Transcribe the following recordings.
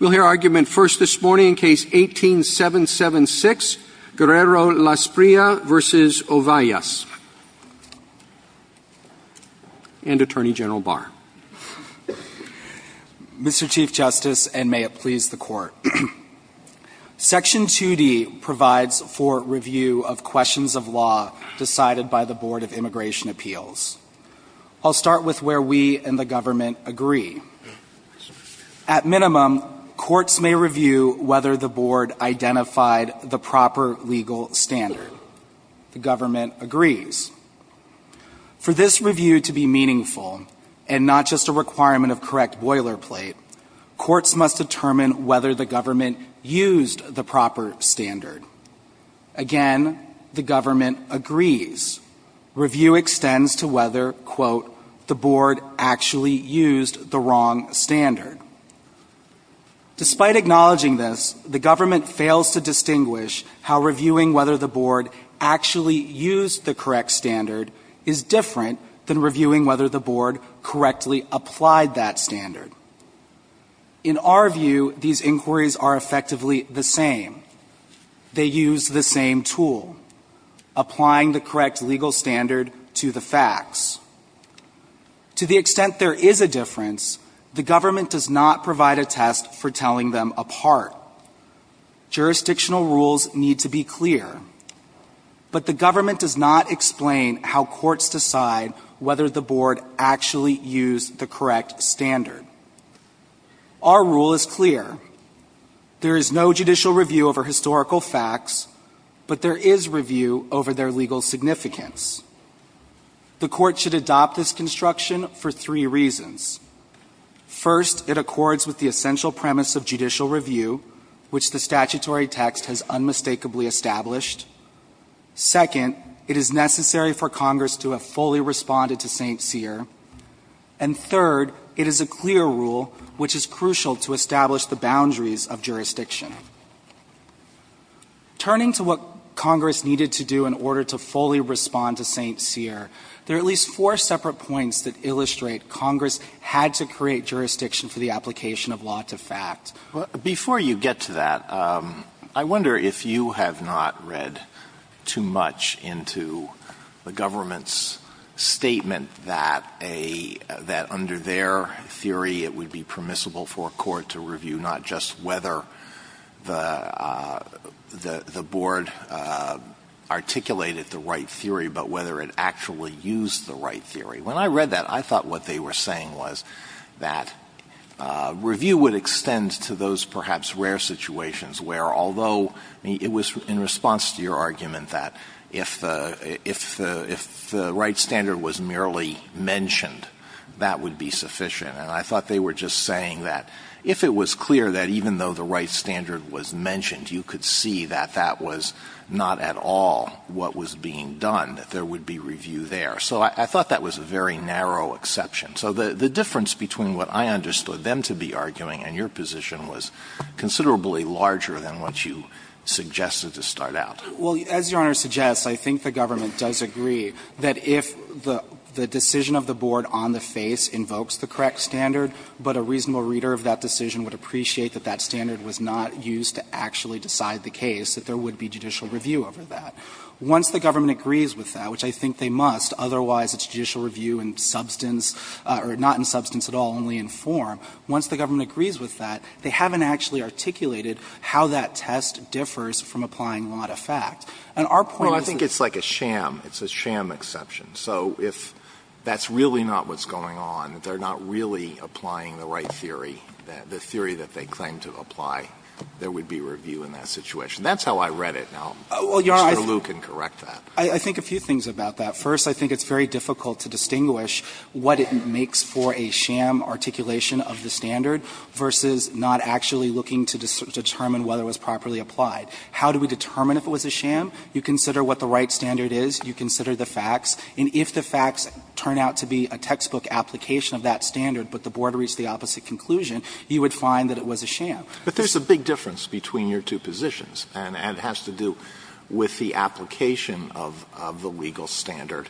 We'll hear argument first this morning in Case 18-776, Guerrero-Lasprilla v. Ovallas. And Attorney General Barr. Mr. Chief Justice, and may it please the Court, Section 2D provides for review of questions of law decided by the Board of Immigration Appeals. I'll start with where we and the government agree. At minimum, courts may review whether the Board identified the proper legal standard. The government agrees. For this review to be meaningful, and not just a requirement of correct boilerplate, courts must determine whether the government used the proper standard. Again, the government agrees. Review extends to whether, quote, the Board actually used the wrong standard. Despite acknowledging this, the government fails to distinguish how reviewing whether the Board actually used the correct standard is different than reviewing whether the Board correctly applied that standard. In our view, these inquiries are effectively the same. They use the same tool, applying the correct legal standard to the facts. To the extent there is a difference, the government does not provide a test for telling them apart. Jurisdictional rules need to be clear. But the government does not explain how courts decide whether the Board actually used the correct standard. Our rule is clear. There is no judicial review over historical facts, but there is review over their legal significance. The court should adopt this construction for three reasons. First, it accords with the essential premise of judicial review, which the statutory text has unmistakably established. Second, it is necessary for Congress to have fully responded to St. Cyr. And third, it is a clear rule, which is crucial to establish the boundaries of jurisdiction. Turning to what Congress needed to do in order to fully respond to St. Cyr, there are at least four separate points that illustrate Congress had to create jurisdiction for the application of law to fact. Alito, before you get to that, I wonder if you have not read too much into the government's statement that a — that under their theory it would be permissible for a court to review not just whether the — the Board articulated the right theory, but whether it actually used the right theory. When I read that, I thought what they were saying was that review would extend to those perhaps rare situations where, although it was in response to your argument that if the — if the right standard was merely mentioned, that would be sufficient. And I thought they were just saying that if it was clear that even though the right standard was mentioned, you could see that that was not at all what was being done, that there would be review there. So I thought that was a very narrow exception. So the difference between what I understood them to be arguing and your position was considerably larger than what you suggested to start out. Well, as Your Honor suggests, I think the government does agree that if the — the decision of the Board on the face invokes the correct standard, but a reasonable reader of that decision would appreciate that that standard was not used to actually decide the case, that there would be judicial review over that. Once the government agrees with that, which I think they must, otherwise it's judicial review in substance — or not in substance at all, only in form. Once the government agrees with that, they haven't actually articulated how that test differs from applying a lot of fact. And our point is that — Well, I think it's like a sham. It's a sham exception. So if that's really not what's going on, that they're not really applying the right theory, the theory that they claim to apply, there would be review in that situation. That's how I read it. Now, Mr. Lew can correct that. I think a few things about that. First, I think it's very difficult to distinguish what it makes for a sham articulation of the standard versus not actually looking to determine whether it was properly applied. How do we determine if it was a sham? You consider what the right standard is. You consider the facts. And if the facts turn out to be a textbook application of that standard, but the board reached the opposite conclusion, you would find that it was a sham. But there's a big difference between your two positions, and it has to do with the application of the legal standard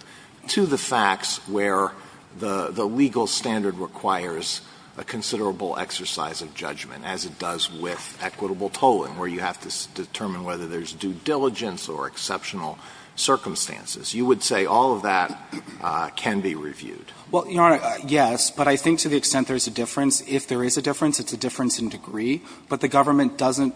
to the facts where the legal standard requires a considerable exercise of judgment, as it does with equitable tolling, where you have to determine whether there's due diligence or exceptional circumstances. You would say all of that can be reviewed. Well, Your Honor, yes, but I think to the extent there's a difference, if there is a difference, it's a difference in degree. But the government doesn't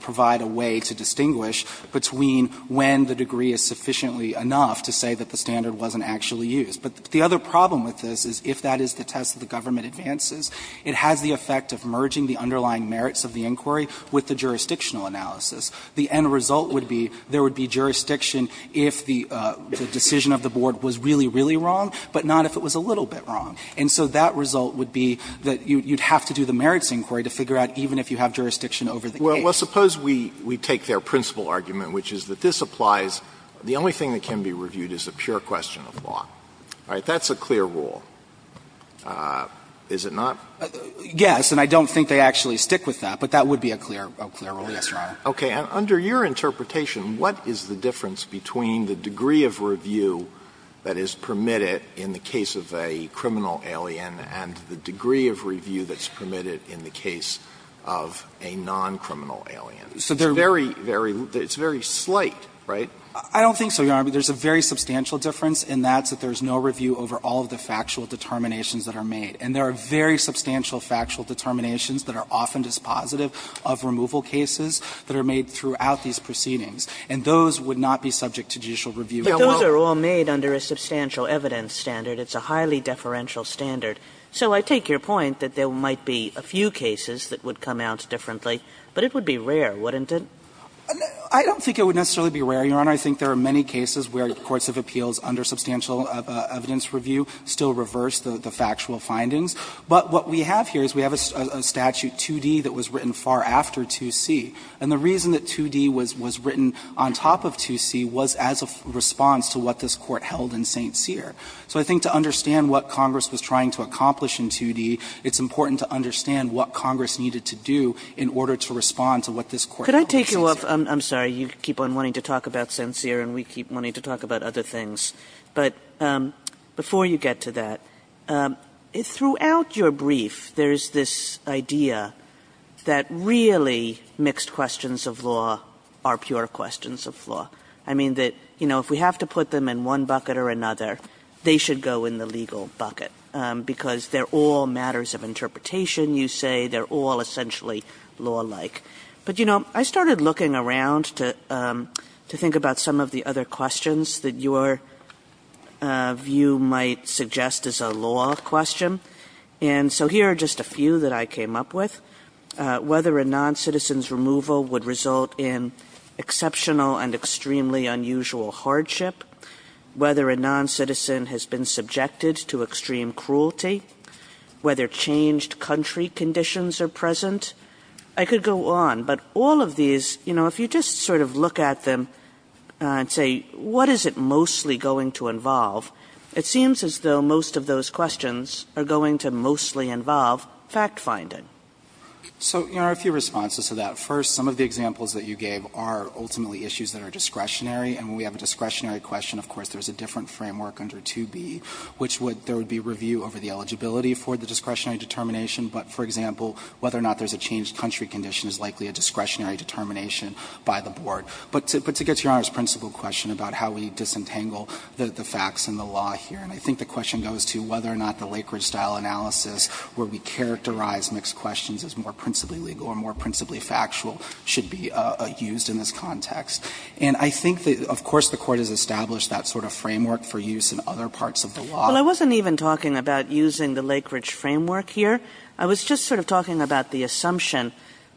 provide a way to distinguish between when the degree is sufficiently enough to say that the standard wasn't actually used. But the other problem with this is if that is the test that the government advances, it has the effect of merging the underlying merits of the inquiry with the jurisdictional analysis. The end result would be there would be jurisdiction if the decision of the board was really, really wrong, but not if it was a little bit wrong. And so that result would be that you'd have to do the merits inquiry to figure out even if you have jurisdiction over the case. Well, suppose we take their principal argument, which is that this applies, the only thing that can be reviewed is a pure question of law. All right. That's a clear rule. Is it not? Yes. And I don't think they actually stick with that, but that would be a clear rule. Yes, Your Honor. Okay. And under your interpretation, what is the difference between the degree of review that is permitted in the case of a criminal alien and the degree of review that's permitted in the case of a non-criminal alien? It's very, very slight, right? I don't think so, Your Honor. There's a very substantial difference, and that's that there's no review over all of the factual determinations that are made. And there are very substantial factual determinations that are often dispositive of removal cases that are made throughout these proceedings. And those would not be subject to judicial review. But those are all made under a substantial evidence standard. It's a highly deferential standard. So I take your point that there might be a few cases that would come out differently, but it would be rare, wouldn't it? I don't think it would necessarily be rare, Your Honor. I think there are many cases where courts of appeals under substantial evidence review still reverse the factual findings. But what we have here is we have a statute, 2D, that was written far after 2C. And the reason that 2D was written on top of 2C was as a response to what this court held in St. Cyr. So I think to understand what Congress was trying to accomplish in 2D, it's important to understand what Congress needed to do in order to respond to what this court held in St. Cyr. Kagan. I'm sorry. You keep on wanting to talk about St. Cyr and we keep wanting to talk about other things. But before you get to that, throughout your brief there is this idea that really mixed questions of law are pure questions of law. I mean, if we have to put them in one bucket or another, they should go in the legal bucket, because they're all matters of interpretation, you say, they're all essentially law-like. But, you know, I started looking around to think about some of the other questions that your view might suggest as a law question. And so here are just a few that I came up with. Whether a non-citizen's removal would result in exceptional and extremely unusual hardship, whether a non-citizen has been subjected to extreme cruelty, whether changed country conditions are present. I could go on, but all of these, you know, if you just sort of look at them and say, what is it mostly going to involve? It seems as though most of those questions are going to mostly involve fact-finding. So, you know, a few responses to that. First, some of the examples that you gave are ultimately issues that are discretionary. And when we have a discretionary question, of course, there's a different framework under 2B, which would be review over the eligibility for the discretionary determination. But, for example, whether or not there's a changed country condition is likely a discretionary determination by the board. But to get to Your Honor's principal question about how we disentangle the facts in the law here, and I think the question goes to whether or not the Lakeridge style analysis, where we characterize mixed questions as more principally legal or more principally factual, should be used in this context. And I think that, of course, the Court has established that sort of framework for use in other parts of the law. Well, I wasn't even talking about using the Lakeridge framework here. I was just sort of talking about the assumption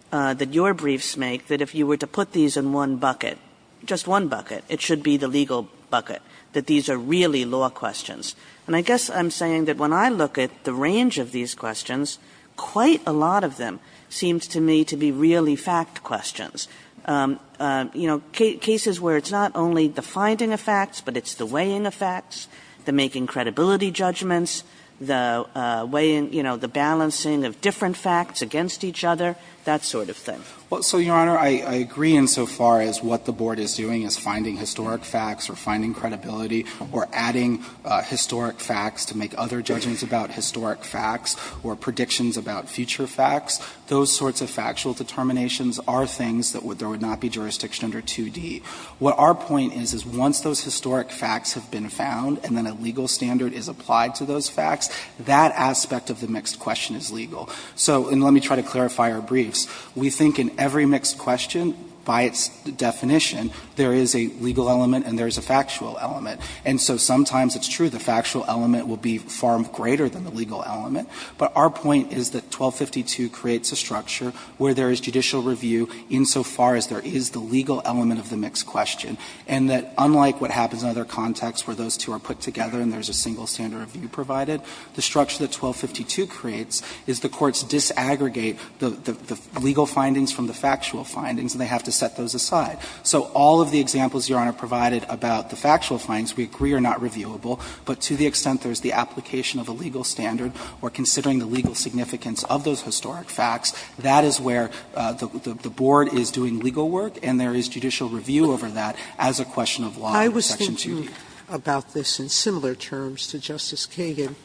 that your briefs make, that if you were to put these in one bucket, just one bucket, it should be the legal bucket, that these are really law questions. And I guess I'm saying that when I look at the range of these questions, quite a lot of them seem to me to be really fact questions. You know, cases where it's not only the finding of facts, but it's the weighing of facts, the making credibility judgments, the way in, you know, the balancing of different facts against each other, that sort of thing. Well, so, Your Honor, I agree insofar as what the Board is doing is finding historic facts or finding credibility or adding historic facts to make other judgments about historic facts or predictions about future facts. Those sorts of factual determinations are things that would not be jurisdiction under 2D. What our point is, is once those historic facts have been found and then a legal standard is applied to those facts, that aspect of the mixed question is legal. So, and let me try to clarify our briefs. We think in every mixed question, by its definition, there is a legal element and there is a factual element. And so sometimes it's true the factual element will be far greater than the legal element, but our point is that 1252 creates a structure where there is judicial review insofar as there is the legal element of the mixed question, and that unlike what happens in other contexts where those two are put together and there is a single standard of view provided, the structure that 1252 creates is the courts disaggregate the legal findings from the factual findings and they have to set those aside. So all of the examples Your Honor provided about the factual findings we agree are not reviewable, but to the extent there is the application of a legal standard or considering the legal significance of those historic facts, that is where the board is doing legal work and there is judicial review over that as a question of law in section 2D. Sotomayor, I was thinking about this in similar terms to Justice Kagan,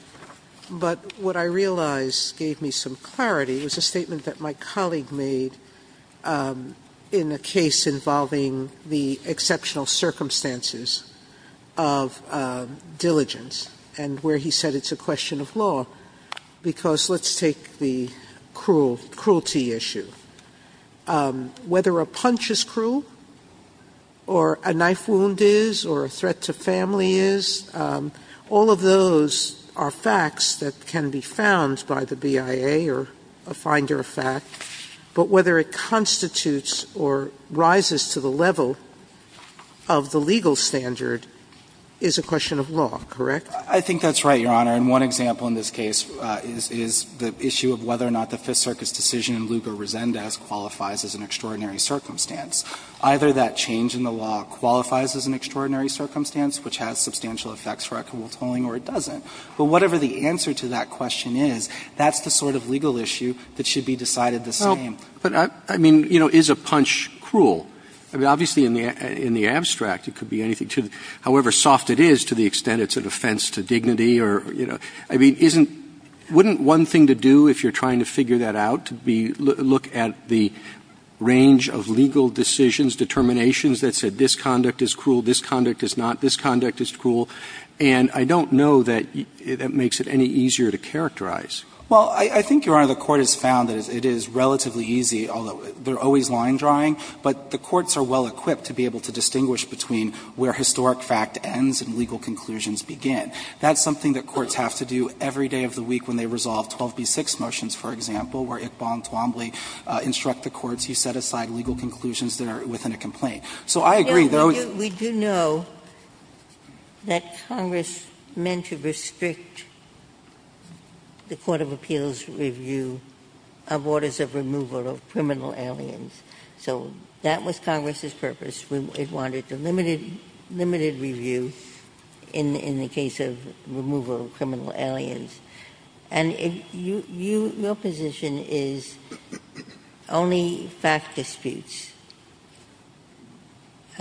but what I realized gave me some clarity was a statement that my colleague made in a case involving the exceptional circumstances of diligence and where he said it's a question of law, because let's take the cruelty issue. Whether a punch is cruel, or a knife wound is, or a threat to family is, all of those are facts that can be found by the BIA or a finder of fact, but whether it constitutes or rises to the level of the legal standard is a question of law, correct? I think that's right, Your Honor. And one example in this case is the issue of whether or not the Fifth Circuit's decision in Lugar-Rosendaz qualifies as an extraordinary circumstance. Either that change in the law qualifies as an extraordinary circumstance, which has substantial effects for equitable tolling, or it doesn't. But whatever the answer to that question is, that's the sort of legal issue that should be decided the same. Well, but I mean, you know, is a punch cruel? I mean, obviously in the abstract it could be anything to the — however soft it is to the extent it's an offense to dignity or, you know — I mean, isn't — wouldn't one thing to do, if you're trying to figure that out, to be — look at the range of legal decisions, determinations that said this conduct is cruel, this conduct is not, this conduct is cruel? And I don't know that that makes it any easier to characterize. Well, I think, Your Honor, the Court has found that it is relatively easy, although they're always line-drawing, but the courts are well-equipped to be able to distinguish between where historic fact ends and legal conclusions begin. That's something that courts have to do every day of the week when they resolve 12b-6 motions, for example, where Iqbal and Twombly instruct the courts, you set aside legal conclusions that are within a complaint. So I agree, though we do know that Congress meant to restrict the court of appeals review of orders of removal of criminal aliens. So that was Congress's purpose. It wanted to limit it — limited review in the case of removal of criminal aliens. And if you — your position is only fact disputes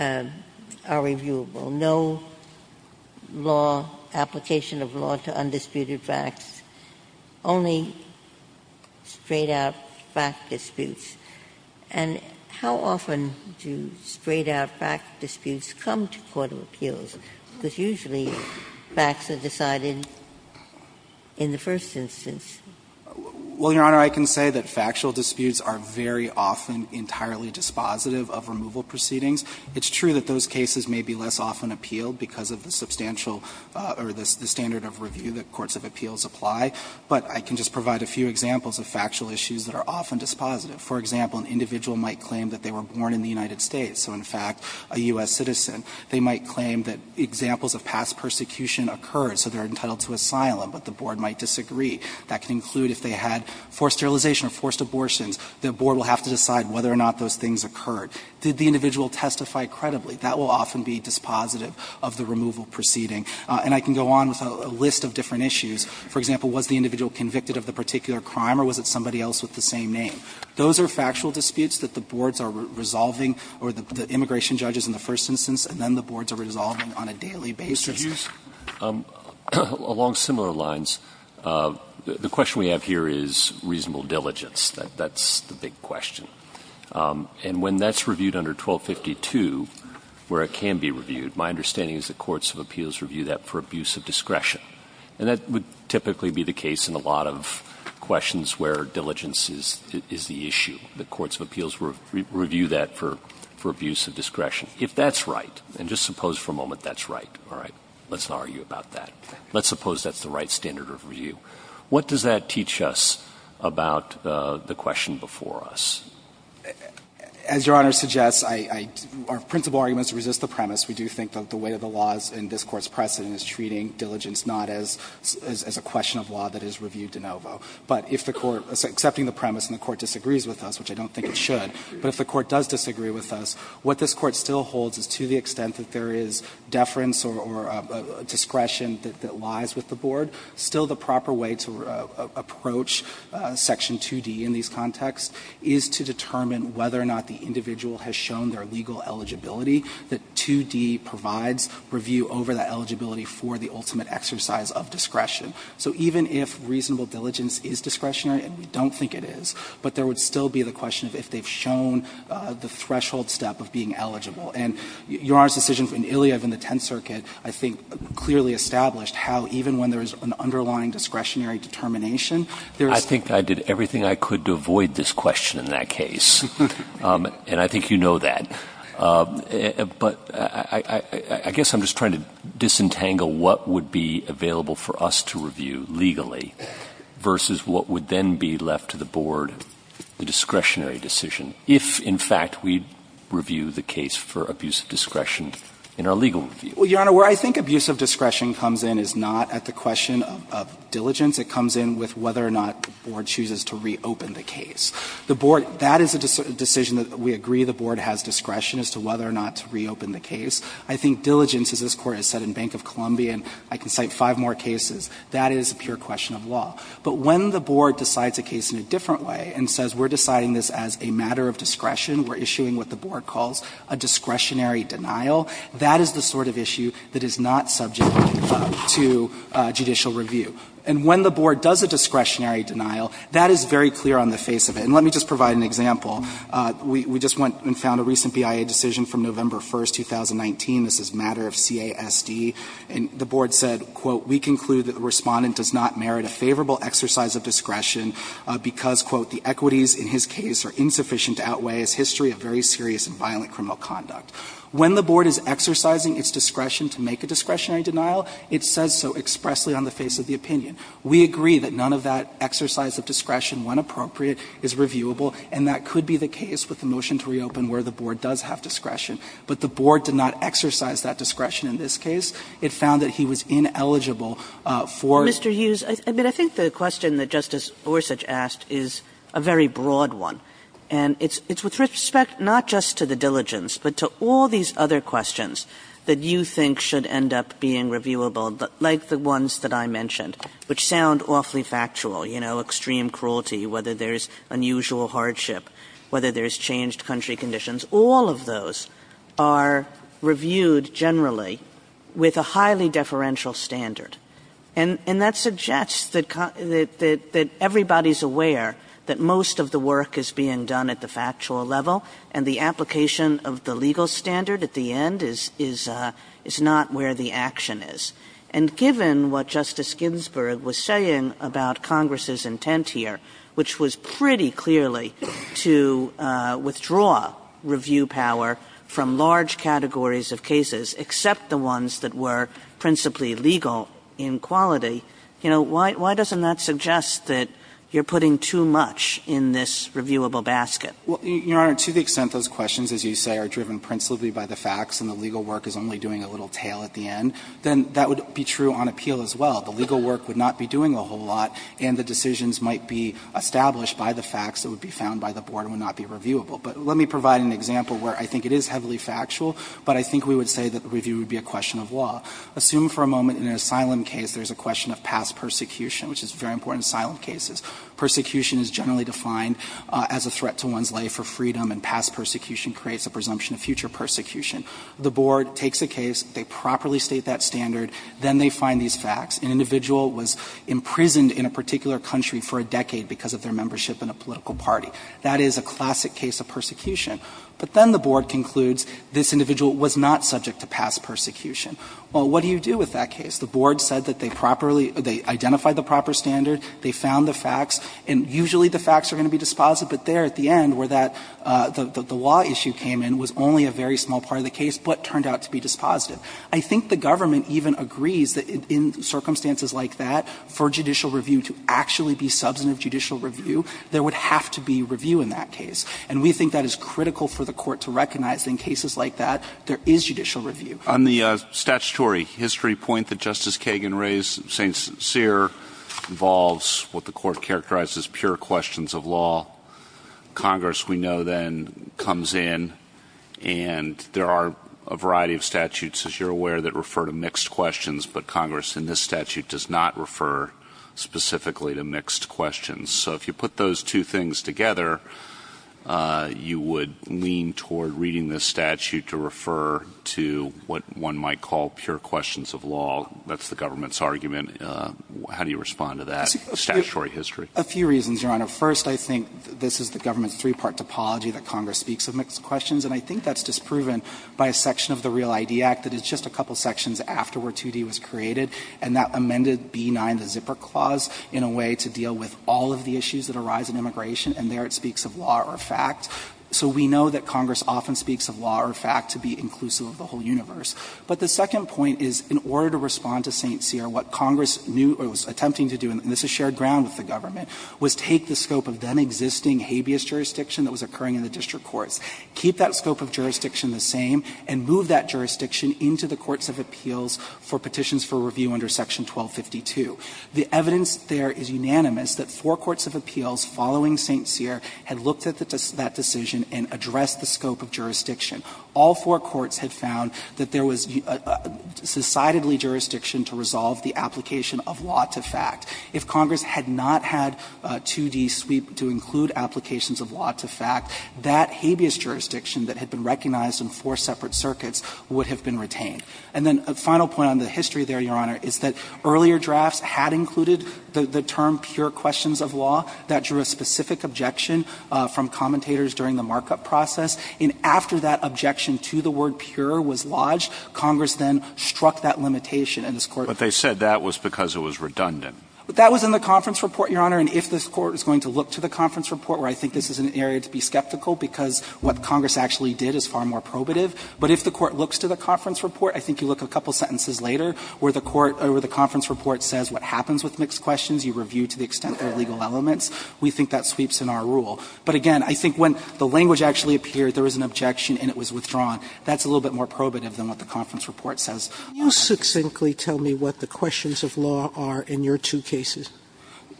are reviewable, no law — application of law to undisputed facts, only straight-out fact disputes. And how often do straight-out fact disputes come to court of appeals? Because usually facts are decided in the first instance. Well, Your Honor, I can say that factual disputes are very often entirely dispositive of removal proceedings. It's true that those cases may be less often appealed because of the substantial — or the standard of review that courts of appeals apply, but I can just provide a few examples of factual issues that are often dispositive. For example, an individual might claim that they were born in the United States, so in fact a U.S. citizen. They might claim that examples of past persecution occurred, so they're entitled to asylum, but the board might disagree. That can include if they had forced sterilization or forced abortions. The board will have to decide whether or not those things occurred. Did the individual testify credibly? That will often be dispositive of the removal proceeding. And I can go on with a list of different issues. For example, was the individual convicted of the particular crime or was it somebody else with the same name? Those are factual disputes that the boards are resolving, or the immigration judges in the first instance, and then the boards are resolving on a daily basis. Alitoso, along similar lines, the question we have here is reasonable diligence. That's the big question. And when that's reviewed under 1252, where it can be reviewed, my understanding is that that's the right standard of review. And that would typically be the case in a lot of questions where diligence is the issue. The courts of appeals review that for abuse of discretion. If that's right, and just suppose for a moment that's right, all right, let's not argue about that, let's suppose that's the right standard of review, what does that teach us about the question before us? As Your Honor suggests, our principal argument is to resist the premise. We do think that the weight of the laws in this Court's precedent is treating diligence not as a question of law that is reviewed de novo. But if the Court, accepting the premise and the Court disagrees with us, which I don't think it should, but if the Court does disagree with us, what this Court still holds is to the extent that there is deference or discretion that lies with the board, still the proper way to approach section 2D in these contexts is to determine whether or not the individual has shown their legal eligibility, that 2D is the right 2D provides review over that eligibility for the ultimate exercise of discretion. So even if reasonable diligence is discretionary, and we don't think it is, but there would still be the question of if they've shown the threshold step of being eligible. And Your Honor's decision in Iliyev in the Tenth Circuit, I think, clearly established how even when there is an underlying discretionary determination, there's – I think I did everything I could to avoid this question in that case. And I think you know that. But I guess I'm just trying to disentangle what would be available for us to review legally versus what would then be left to the board, the discretionary decision, if in fact we review the case for abuse of discretion in our legal review. Well, Your Honor, where I think abuse of discretion comes in is not at the question of diligence. It comes in with whether or not the board chooses to reopen the case. The board – that is a decision that we agree the board has discretion as to whether or not to reopen the case. I think diligence, as this Court has said in Bank of Columbia, and I can cite five more cases, that is a pure question of law. But when the board decides a case in a different way and says we're deciding this as a matter of discretion, we're issuing what the board calls a discretionary denial, that is the sort of issue that is not subject to judicial review. And when the board does a discretionary denial, that is very clear on the face of it And let me just provide an example. We just went and found a recent BIA decision from November 1, 2019. This is a matter of CASD, and the board said, quote, we conclude that the respondent does not merit a favorable exercise of discretion because, quote, the equities in his case are insufficient to outweigh his history of very serious and violent criminal conduct. When the board is exercising its discretion to make a discretionary denial, it says so expressly on the face of the opinion. We agree that none of that exercise of discretion, when appropriate, is reviewable, and that could be the case with the motion to reopen where the board does have discretion. But the board did not exercise that discretion in this case. It found that he was ineligible for Mr. Hughes, I mean, I think the question that Justice Gorsuch asked is a very broad one. And it's with respect not just to the diligence, but to all these other questions that you think should end up being reviewable, like the ones that I mentioned. Which sound awfully factual, you know, extreme cruelty, whether there's unusual hardship, whether there's changed country conditions, all of those are reviewed generally with a highly deferential standard. And that suggests that everybody's aware that most of the work is being done at the factual level, and the application of the legal standard at the end is not where the action is. And given what Justice Ginsburg was saying about Congress's intent here, which was pretty clearly to withdraw review power from large categories of cases, except the ones that were principally legal in quality, you know, why doesn't that suggest that you're putting too much in this reviewable basket? Well, Your Honor, to the extent those questions, as you say, are driven principally by the facts and the legal work is only doing a little tail at the end, then that would be true on appeal as well. The legal work would not be doing a whole lot, and the decisions might be established by the facts that would be found by the Board and would not be reviewable. But let me provide an example where I think it is heavily factual, but I think we would say that the review would be a question of law. Assume for a moment in an asylum case there's a question of past persecution, which is very important in asylum cases. Persecution is generally defined as a threat to one's life or freedom, and past persecution creates a presumption of future persecution. The Board takes a case, they properly state that standard, then they find these facts. An individual was imprisoned in a particular country for a decade because of their membership in a political party. That is a classic case of persecution. But then the Board concludes this individual was not subject to past persecution. Well, what do you do with that case? The Board said that they properly – they identified the proper standard, they found the facts, and usually the facts are going to be dispositive, but there at the end of the day, where that – the law issue came in was only a very small part of the case, but turned out to be dispositive. I think the government even agrees that in circumstances like that, for judicial review to actually be substantive judicial review, there would have to be review in that case. And we think that is critical for the Court to recognize that in cases like that, there is judicial review. On the statutory history point that Justice Kagan raised, St. Cyr involves what the Congress we know then comes in, and there are a variety of statutes, as you are aware, that refer to mixed questions, but Congress in this statute does not refer specifically to mixed questions. So if you put those two things together, you would lean toward reading this statute to refer to what one might call pure questions of law. That is the government's argument. A few reasons, Your Honor. First, I think this is the government's three-part topology that Congress speaks of mixed questions, and I think that is disproven by a section of the Real ID Act that is just a couple sections after where 2D was created, and that amended B9, the zipper clause, in a way to deal with all of the issues that arise in immigration, and there it speaks of law or fact. So we know that Congress often speaks of law or fact to be inclusive of the whole universe. But the second point is, in order to respond to St. Cyr, what Congress knew or was existing habeas jurisdiction that was occurring in the district courts, keep that scope of jurisdiction the same and move that jurisdiction into the courts of appeals for petitions for review under section 1252. The evidence there is unanimous that four courts of appeals following St. Cyr had looked at that decision and addressed the scope of jurisdiction. All four courts had found that there was decidedly jurisdiction to resolve the application of law to fact. If Congress had not had 2D sweep to include applications of law to fact, that habeas jurisdiction that had been recognized in four separate circuits would have been retained. And then a final point on the history there, Your Honor, is that earlier drafts had included the term pure questions of law. That drew a specific objection from commentators during the markup process. And after that objection to the word pure was lodged, Congress then struck that limitation, and this Court ---- But that was in the conference report, Your Honor, and if this Court is going to look to the conference report, where I think this is an area to be skeptical because what Congress actually did is far more probative, but if the Court looks to the conference report, I think you look a couple sentences later where the Court or the conference report says what happens with mixed questions, you review to the extent there are legal elements, we think that sweeps in our rule. But again, I think when the language actually appeared, there was an objection and it was withdrawn. That's a little bit more probative than what the conference report says. Sotomayor, can you succinctly tell me what the questions of law are in your two cases?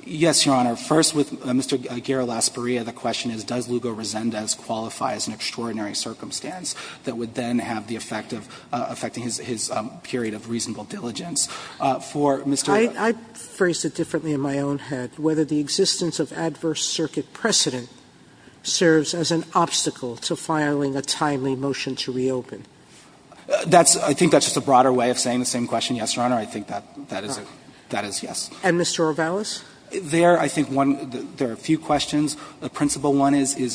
Yes, Your Honor. First, with Mr. Guerra-Lasparia, the question is does Lugo-Rosendez qualify as an extraordinary circumstance that would then have the effect of affecting his period of reasonable diligence. For Mr. ---- I phrased it differently in my own head. Whether the existence of adverse circuit precedent serves as an obstacle to filing a timely motion to reopen. That's – I think that's just a broader way of saying the same question, Yes, Your Honor. I think that is a – that is yes. And Mr. Rivelas? There, I think one – there are a few questions. The principal one is, is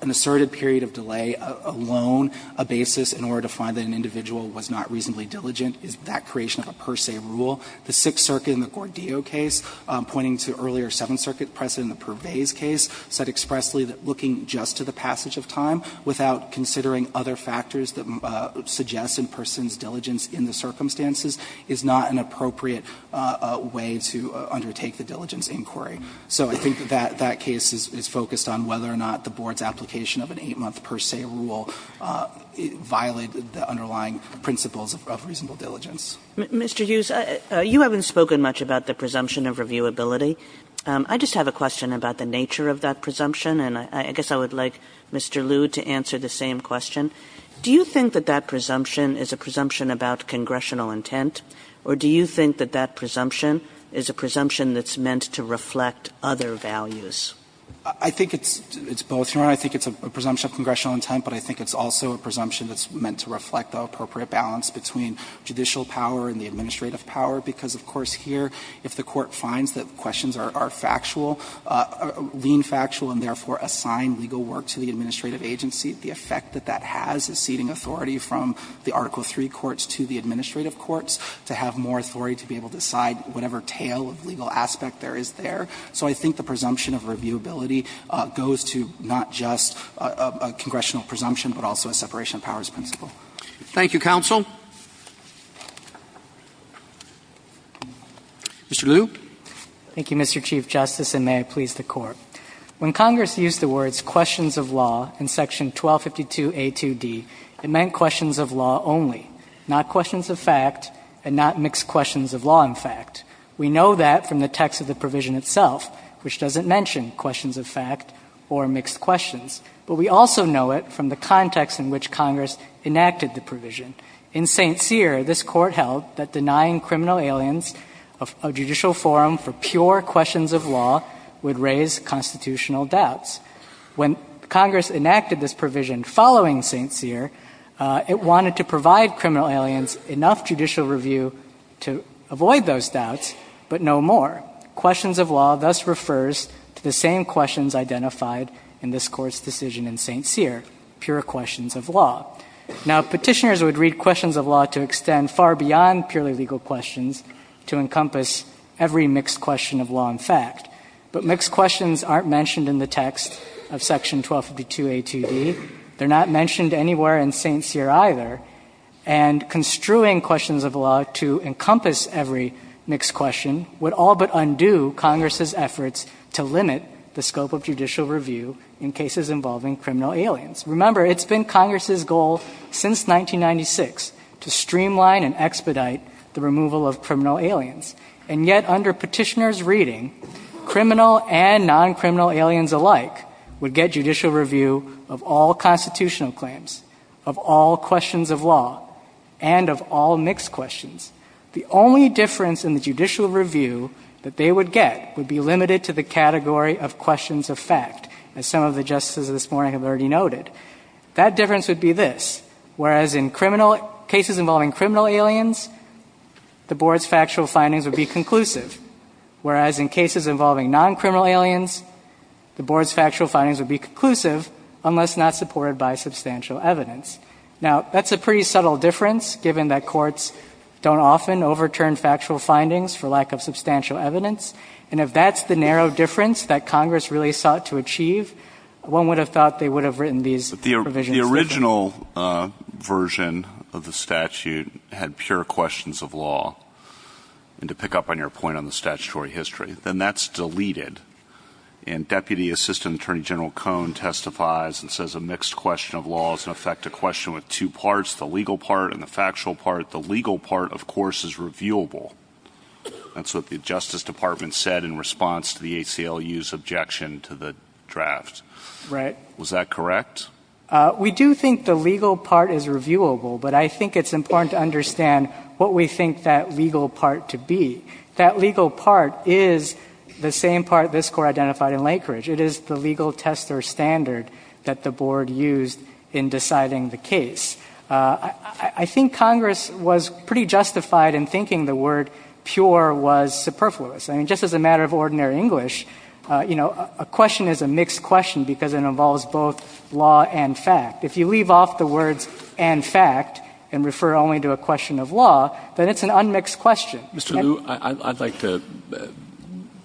an asserted period of delay alone a basis in order to find that an individual was not reasonably diligent? Is that creation of a per se rule? The Sixth Circuit in the Gordillo case, pointing to earlier Seventh Circuit precedent in the Pervais case, said expressly that looking just to the passage of time without considering other factors that suggest a person's diligence in the circumstances is not an appropriate way to undertake the diligence inquiry. So I think that that case is focused on whether or not the board's application of an 8-month per se rule violated the underlying principles of reasonable diligence. Mr. Hughes, you haven't spoken much about the presumption of reviewability. I just have a question about the nature of that presumption, and I guess I would like Mr. Liu to answer the same question. Do you think that that presumption is a presumption about congressional intent, or do you think that that presumption is a presumption that's meant to reflect other values? I think it's – it's both, Your Honor. I think it's a presumption of congressional intent, but I think it's also a presumption that's meant to reflect the appropriate balance between judicial power and the administrative power, because, of course, here, if the Court finds that questions are – are factual, lean factual, and therefore assign legal work to the administrative agency, the effect that that has is ceding authority from the Article III courts to the administrative courts, to have more authority to be able to decide whatever tail of legal aspect there is there. So I think the presumption of reviewability goes to not just a congressional presumption, but also a separation of powers principle. Thank you, counsel. Mr. Liu. Thank you, Mr. Chief Justice, and may I please the Court. When Congress used the words questions of law in Section 1252a2d, it meant questions of law only, not questions of fact and not mixed questions of law and fact. We know that from the text of the provision itself, which doesn't mention questions of fact or mixed questions, but we also know it from the context in which Congress enacted the provision. In St. Cyr, this Court held that denying criminal aliens a judicial forum for pure questions of law would raise constitutional doubts. When Congress enacted this provision following St. Cyr, it wanted to provide criminal aliens enough judicial review to avoid those doubts, but no more. Questions of law thus refers to the same questions identified in this Court's decision in St. Cyr, pure questions of law. Now, petitioners would read questions of law to extend far beyond purely legal questions to encompass every mixed question of law and fact, but mixed questions aren't mentioned in the text of Section 1252a2d. They're not mentioned anywhere in St. Cyr either, and construing questions of law to encompass every mixed question would all but undo Congress's efforts to limit the scope of judicial review in cases involving criminal aliens. Remember, it's been Congress's goal since 1996 to streamline and expedite the removal of criminal aliens, and yet under petitioners' reading, criminal and non-criminal aliens alike would get judicial review of all constitutional claims, of all questions of law, and of all mixed questions. The only difference in the judicial review that they would get would be limited to the That difference would be this, whereas in cases involving criminal aliens, the Board's factual findings would be conclusive, whereas in cases involving non-criminal aliens, the Board's factual findings would be conclusive unless not supported by substantial evidence. Now, that's a pretty subtle difference, given that courts don't often overturn factual findings for lack of substantial evidence, and if that's the narrow difference that The original version of the statute had pure questions of law, and to pick up on your point on the statutory history, then that's deleted, and Deputy Assistant Attorney General Cohn testifies and says a mixed question of law is, in effect, a question with two parts, the legal part and the factual part. The legal part, of course, is reviewable. That's what the Justice Department said in response to the ACLU's objection to the draft. Was that correct? We do think the legal part is reviewable, but I think it's important to understand what we think that legal part to be. That legal part is the same part this Court identified in Lakeridge. It is the legal test or standard that the Board used in deciding the case. I think Congress was pretty justified in thinking the word pure was superfluous. I mean, just as a matter of ordinary English, you know, a question is a mixed question because it involves both law and fact. If you leave off the words and fact and refer only to a question of law, then it's an unmixed question. Mr. Liu, I'd like to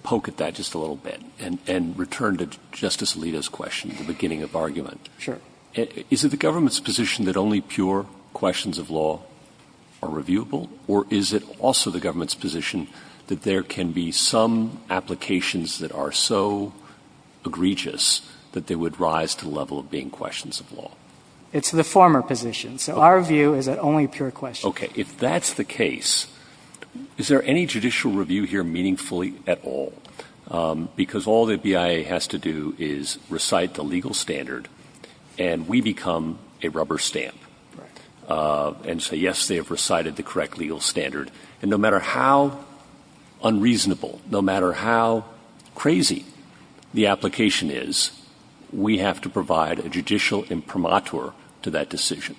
poke at that just a little bit and return to Justice Alito's question at the beginning of the argument. Sure. Is it the government's position that only pure questions of law are reviewable, or is it also the government's position that there can be some applications that are so egregious that they would rise to the level of being questions of law? It's the former position. So our view is that only pure questions. Okay. If that's the case, is there any judicial review here meaningfully at all? Because all the BIA has to do is recite the legal standard and we become a rubber stamp and say, yes, they have recited the correct legal standard. And no matter how unreasonable, no matter how crazy the application is, we have to provide a judicial imprimatur to that decision.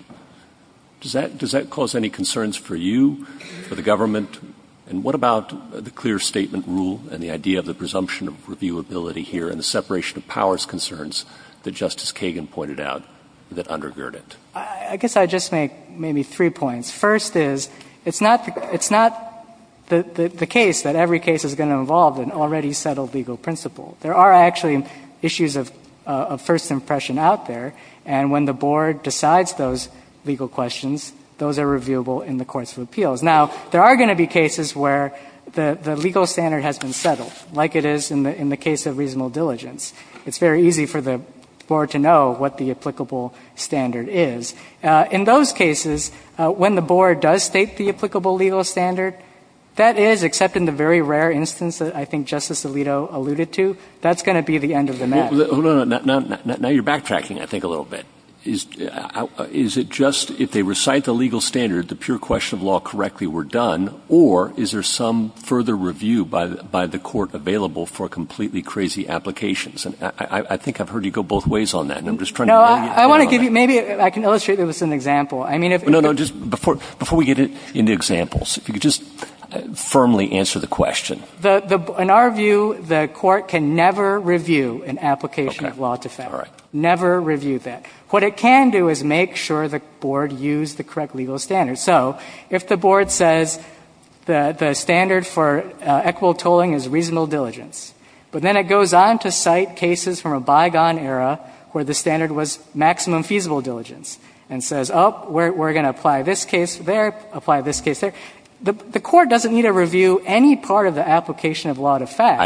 Does that cause any concerns for you, for the government? And what about the clear statement rule and the idea of the presumption of reviewability here and the separation of powers concerns that Justice Kagan pointed out that undergird it? I guess I'd just make maybe three points. First is, it's not the case that every case is going to involve an already settled legal principle. There are actually issues of first impression out there, and when the board decides those legal questions, those are reviewable in the courts of appeals. Now, there are going to be cases where the legal standard has been settled, like it is in the case of reasonable diligence. It's very easy for the board to know what the applicable standard is. In those cases, when the board does state the applicable legal standard, that is, except in the very rare instance that I think Justice Alito alluded to, that's going to be the end of the match. Now you're backtracking, I think, a little bit. Is it just if they recite the legal standard, the pure question of law correctly were done, or is there some further review by the court available for completely crazy applications? I think I've heard you go both ways on that, and I'm just trying to get you on that. Maybe I can illustrate this with an example. No, no, just before we get into examples, if you could just firmly answer the question. In our view, the court can never review an application of law to Federal. Never review that. What it can do is make sure the board used the correct legal standard. So if the board says the standard for equitable tolling is reasonable diligence, but then it goes on to cite cases from a bygone era where the standard was maximum feasible diligence, and says, oh, we're going to apply this case there, apply this case there, the court doesn't need to review any part of the application of law to Fed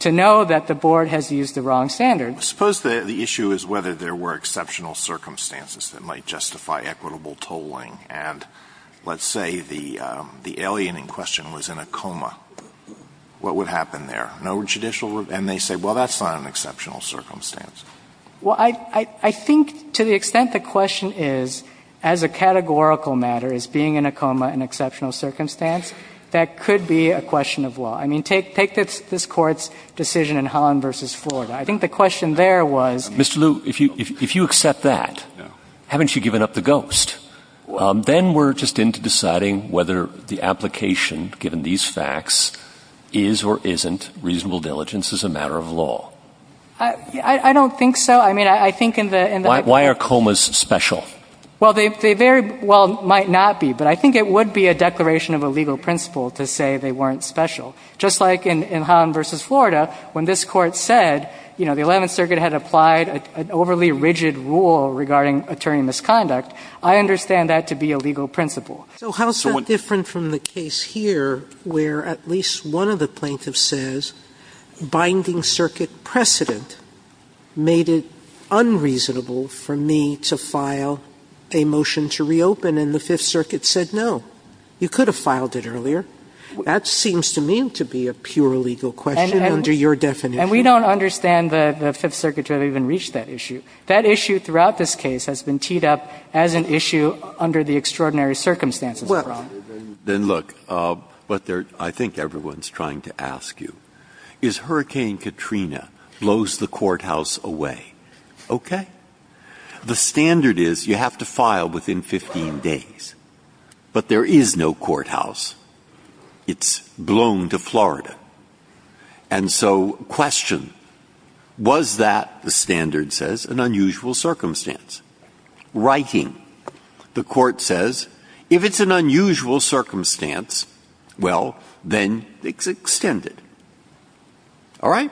to know that the board has used the wrong standard. Suppose the issue is whether there were exceptional circumstances that might justify equitable tolling, and let's say the alien in question was in a coma. What would happen there? No judicial review? And they say, well, that's not an exceptional circumstance. Well, I think to the extent the question is, as a categorical matter, is being in a coma an exceptional circumstance, that could be a question of law. I mean, take this Court's decision in Holland v. Florida. I think the question there was the question of whether the application of law to Fed is or isn't reasonable diligence as a matter of law. I don't think so. I mean, I think in the other case, why are comas special? Well, they very well might not be, but I think it would be a declaration of a legal principle to say they weren't special. Just like in Holland v. Florida, when this Court said, you know, the Eleventh Circuit had applied an overly rigid rule regarding attorney misconduct, I understand that to be a legal principle. Sotomayor So how is that different from the case here, where at least one of the plaintiffs says, binding circuit precedent made it unreasonable for me to file a motion to reopen, and the Fifth Circuit said, no, you could have filed it earlier. That seems to me to be a pure legal question under your definition. And we don't understand the Fifth Circuit to have even reached that issue. That issue throughout this case has been teed up as an issue under the extraordinary circumstances of fraud. Breyer. Then look, what I think everyone's trying to ask you is Hurricane Katrina blows the courthouse away, okay? The standard is you have to file within 15 days, but there is no courthouse. It's blown to Florida. And so question, was that, the standard says, an unusual circumstance? Writing, the Court says, if it's an unusual circumstance, well, then it's extended. All right?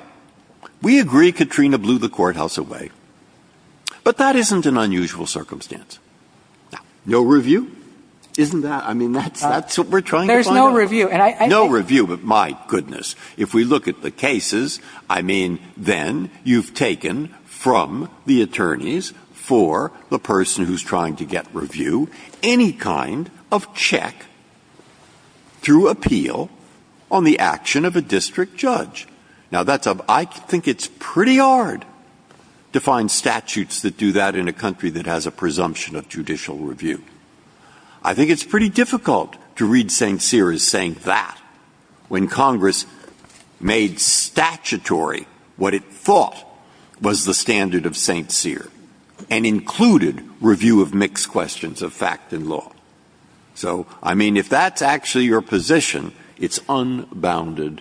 We agree Katrina blew the courthouse away, but that isn't an unusual circumstance. No review? Isn't that what we're trying to find out? No review, but my goodness, if we look at the cases, I mean, then you've taken from the attorneys for the person who's trying to get review any kind of check through appeal on the action of a district judge. Now, that's a, I think it's pretty hard to find statutes that do that in a country that has a presumption of judicial review. I think it's pretty difficult to read St. Cyr as saying that. When Congress made statutory what it thought was the standard of St. Cyr, and included review of mixed questions of fact and law. So I mean, if that's actually your position, it's unbounded,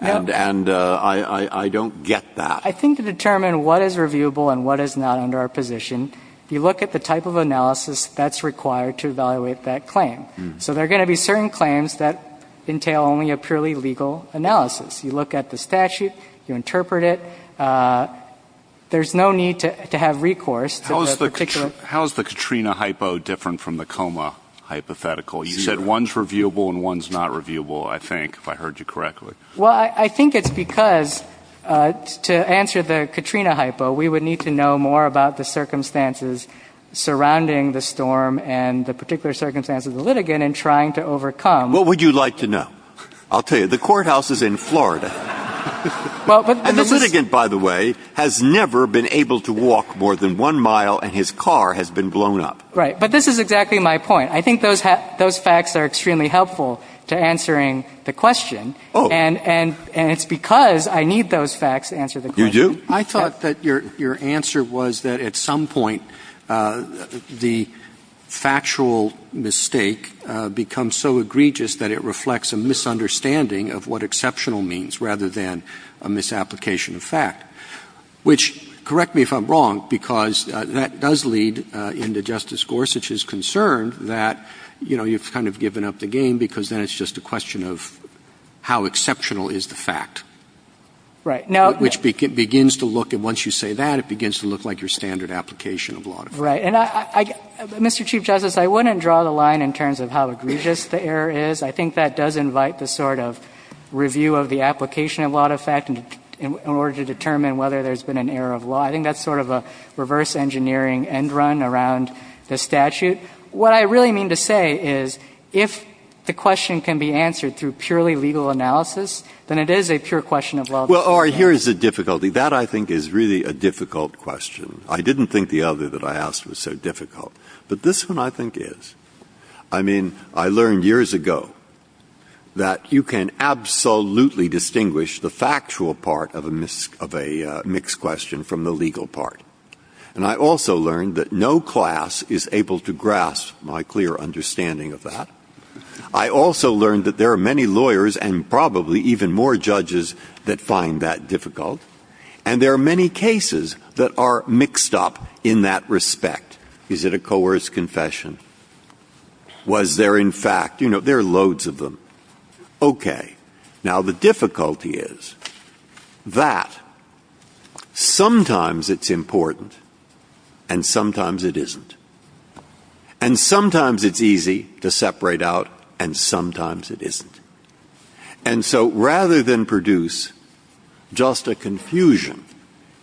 and I don't get that. I think to determine what is reviewable and what is not under our position, you look at the type of analysis that's required to evaluate that claim. So there are going to be certain claims that entail only a purely legal analysis. You look at the statute, you interpret it. There's no need to have recourse to the particular. How is the Katrina hypo different from the coma hypothetical? You said one's reviewable and one's not reviewable, I think, if I heard you correctly. Well, I think it's because to answer the Katrina hypo, we would need to know more about the trying to overcome. What would you like to know? I'll tell you. The courthouse is in Florida. And the litigant, by the way, has never been able to walk more than one mile, and his car has been blown up. Right. But this is exactly my point. I think those facts are extremely helpful to answering the question. And it's because I need those facts to answer the question. You do? I thought that your answer was that at some point, the factual mistake becomes so egregious that it reflects a misunderstanding of what exceptional means, rather than a misapplication of fact, which, correct me if I'm wrong, because that does lead into Justice Gorsuch's concern that, you know, you've kind of given up the game because then it's just a question of how exceptional is the fact. Right. Which begins to look, and once you say that, it begins to look like your standard application of law. Right. And, Mr. Chief Justice, I wouldn't draw the line in terms of how egregious the error is. I think that does invite the sort of review of the application of law to fact in order to determine whether there's been an error of law. I think that's sort of a reverse engineering end run around the statute. What I really mean to say is, if the question can be answered through purely legal analysis, then it is a pure question of law. Well, Ari, here is a difficulty. That, I think, is really a difficult question. I didn't think the other that I asked was so difficult. But this one, I think, is. I mean, I learned years ago that you can absolutely distinguish the factual part of a mixed question from the legal part. And I also learned that no class is able to grasp my clear understanding of that. I also learned that there are many lawyers and probably even more judges that find that difficult. And there are many cases that are mixed up in that respect. Is it a coerced confession? Was there, in fact, you know, there are loads of them. Okay. Now, the difficulty is that sometimes it's important and sometimes it isn't. And sometimes it's easy to separate out and sometimes it isn't. And so, rather than produce just a confusion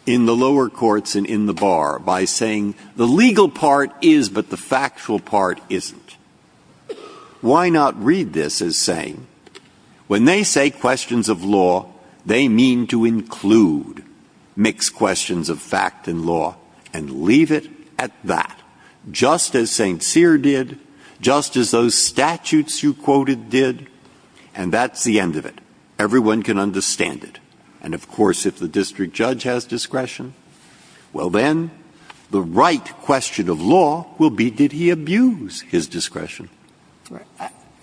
in the lower courts and in the bar by saying, the legal part is but the factual part isn't, why not read this as saying, when they say questions of law, they mean to include mixed questions of fact and law and leave it at that, just as St. Cyr did, just as those statutes you quoted did. And that's the end of it. Everyone can understand it. And, of course, if the district judge has discretion, well, then, the right question of law will be, did he abuse his discretion?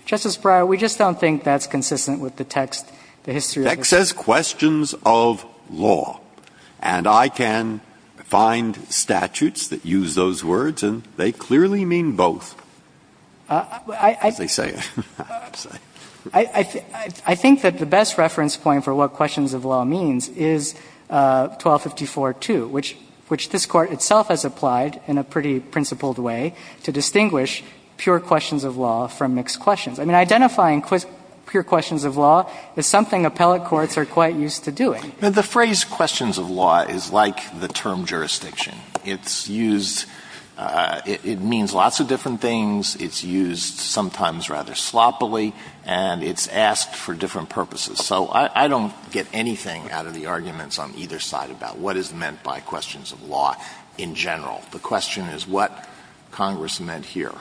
Justice Breyer, we just don't think that's consistent with the text, the history of this case. The text says questions of law. And I can find statutes that use those words, and they clearly mean both. As they say. I think that the best reference point for what questions of law means is 1254-2, which this Court itself has applied in a pretty principled way to distinguish pure questions of law from mixed questions. I mean, identifying pure questions of law is something appellate courts are quite used to doing. The phrase questions of law is like the term jurisdiction. It's used — it means lots of different things. It's used sometimes rather sloppily, and it's asked for different purposes. So I don't get anything out of the arguments on either side about what is meant by questions of law in general. The question is what Congress meant here.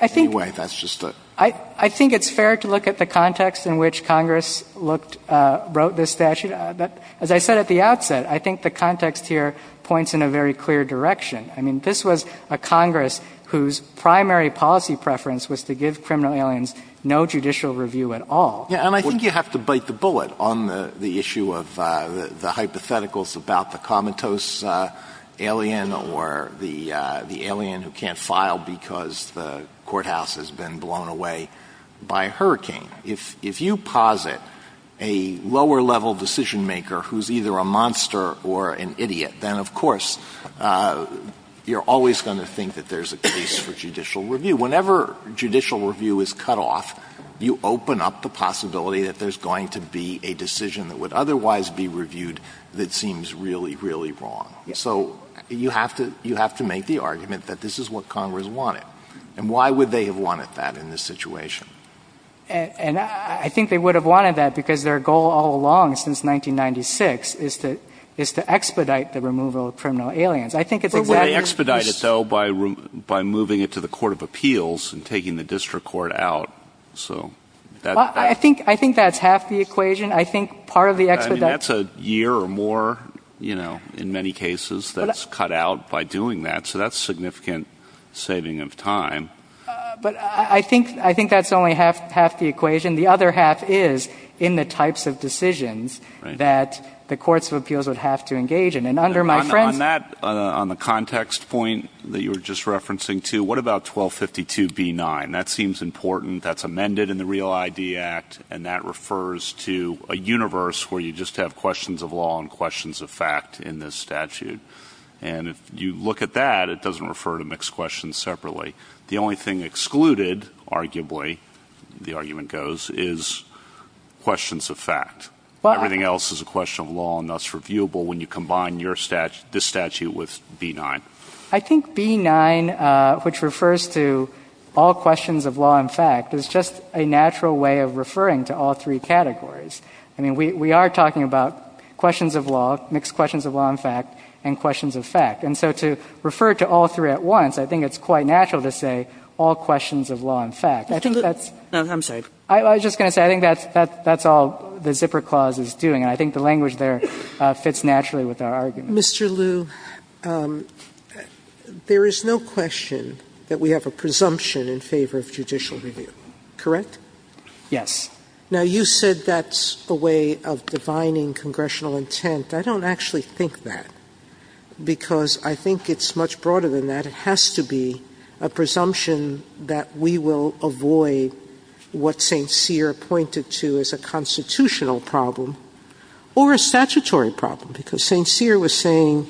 Anyway, that's just a — I think it's fair to look at the context in which Congress looked — wrote this statute. As I said at the outset, I think the context here points in a very clear direction. I mean, this was a Congress whose primary policy preference was to give criminal aliens no judicial review at all. Yeah. And I think you have to bite the bullet on the issue of the hypotheticals about the comatose alien or the alien who can't file because the courthouse has been blown away by a hurricane. If you posit a lower-level decision-maker who's either a monster or an idiot, then of course you're always going to think that there's a case for judicial review. Whenever judicial review is cut off, you open up the possibility that there's going to be a decision that would otherwise be reviewed that seems really, really wrong. So you have to — you have to make the argument that this is what Congress wanted. And why would they have wanted that in this situation? And I think they would have wanted that because their goal all along since 1996 is to expedite the removal of criminal aliens. I think it's exactly — But would they expedite it, though, by moving it to the court of appeals and taking the district court out? So that — I think — I think that's half the equation. I think part of the expedite — I mean, that's a year or more, you know, in many cases, that's cut out by doing that. So that's significant saving of time. But I think — I think that's only half the equation. The other half is in the types of decisions that the courts of appeals would have to engage in. And under my friend's — On that — on the context point that you were just referencing, too, what about 1252b9? That seems important. That's amended in the Real ID Act. And that refers to a universe where you just have questions of law and questions of fact in this statute. And if you look at that, it doesn't refer to mixed questions separately. The only thing excluded, arguably, the argument goes, is questions of fact. Everything else is a question of law and thus reviewable when you combine your — this statute with b9. I think b9, which refers to all questions of law and fact, is just a natural way of referring to all three categories. I mean, we are talking about questions of law, mixed questions of law and fact, and questions of fact. And so to refer to all three at once, I think it's quite natural to say all questions of law and fact. I think that's — No, I'm sorry. I was just going to say, I think that's all the zipper clause is doing. And I think the language there fits naturally with our argument. Mr. Liu, there is no question that we have a presumption in favor of judicial review, correct? Yes. Now, you said that's a way of divining congressional intent. I don't actually think that, because I think it's much broader than that. It has to be a presumption that we will avoid what St. Cyr pointed to as a constitutional problem or a statutory problem, because St. Cyr was saying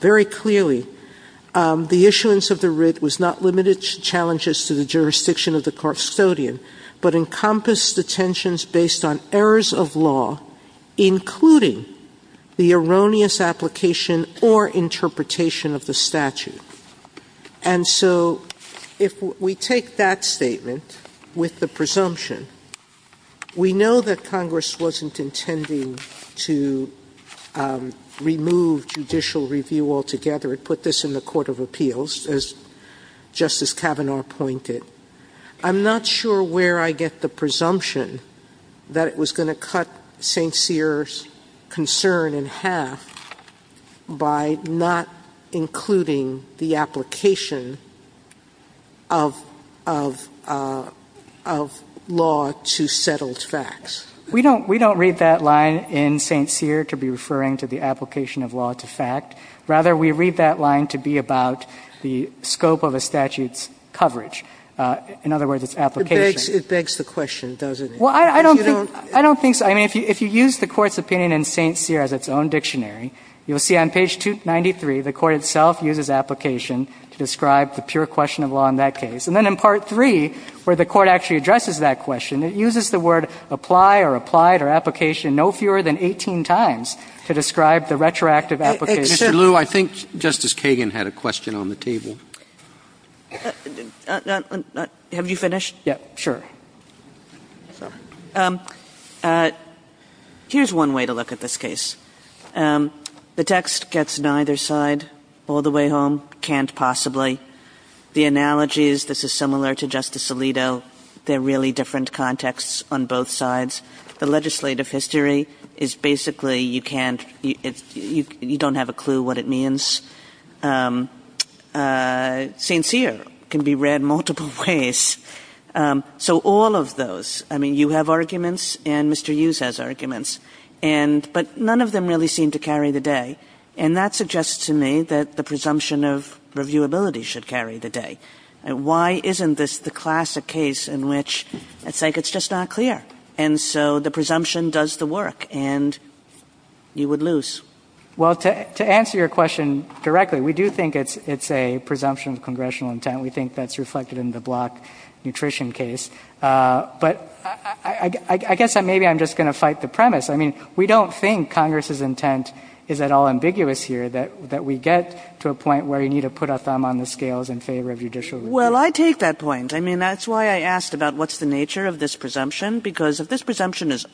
very clearly the issuance of the writ was not limited to challenges to the jurisdiction of the custodian, but encompassed based on errors of law, including the erroneous application or interpretation of the statute. And so if we take that statement with the presumption, we know that Congress wasn't intending to remove judicial review altogether. It put this in the Court of Appeals, as Justice Kavanaugh pointed. I'm not sure where I get the presumption that it was going to cut St. Cyr's concern in half by not including the application of law to settled facts. We don't read that line in St. Cyr to be referring to the application of law to fact. Rather, we read that line to be about the scope of a statute's coverage. In other words, its application. It begs the question, doesn't it? Well, I don't think so. I mean, if you use the Court's opinion in St. Cyr as its own dictionary, you'll see on page 293 the Court itself uses application to describe the pure question of law in that case. And then in Part III, where the Court actually addresses that question, it uses the word apply or applied or application no fewer than 18 times to describe the retroactive Mr. Liu, I think Justice Kagan had a question on the table. Have you finished? Yeah, sure. Here's one way to look at this case. The text gets neither side all the way home. Can't possibly. The analogy is this is similar to Justice Alito. They're really different contexts on both sides. The legislative history is basically you can't, you don't have a clue what it means. St. Cyr can be read multiple ways. So all of those, I mean, you have arguments and Mr. Liu has arguments, but none of them really seem to carry the day. And that suggests to me that the presumption of reviewability should carry the day. Why isn't this the classic case in which it's like it's just not clear? And so the presumption does the work, and you would lose. Well, to answer your question directly, we do think it's a presumption of congressional intent. We think that's reflected in the block nutrition case. But I guess maybe I'm just going to fight the premise. I mean, we don't think Congress's intent is at all ambiguous here that we get to a point where you need to put a thumb on the scales in favor of judicial review. Well, I take that point. I mean, that's why I asked about what's the nature of this presumption, because if this pretty strong sense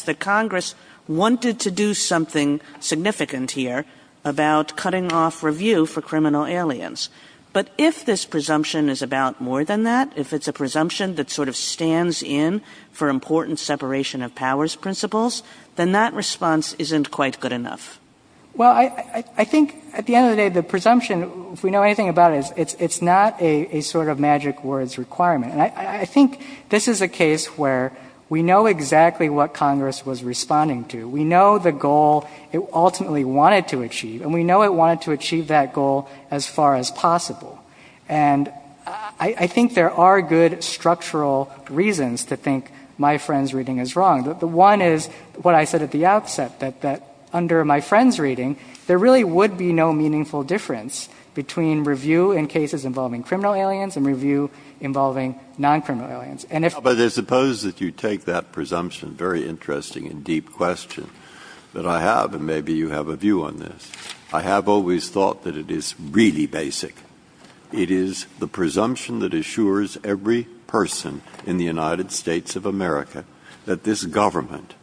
that Congress wanted to do something significant here about cutting off review for criminal aliens. But if this presumption is about more than that, if it's a presumption that sort of stands in for important separation of powers principles, then that response isn't quite good enough. Well, I think at the end of the day, the presumption, if we know anything about it, it's not a sort of magic words requirement. And I think this is a case where we know exactly what Congress was responding to. We know the goal it ultimately wanted to achieve, and we know it wanted to achieve that goal as far as possible. And I think there are good structural reasons to think my friend's reading is wrong. The one is what I said at the outset, that under my friend's reading, there really would be no meaningful difference between review in cases involving criminal aliens and review involving non-criminal aliens. And if you think about it, I suppose that you take that presumption, very interesting and deep question, that I have, and maybe you have a view on this. I have always thought that it is really basic. It is the presumption that assures every person in the United States of America that this government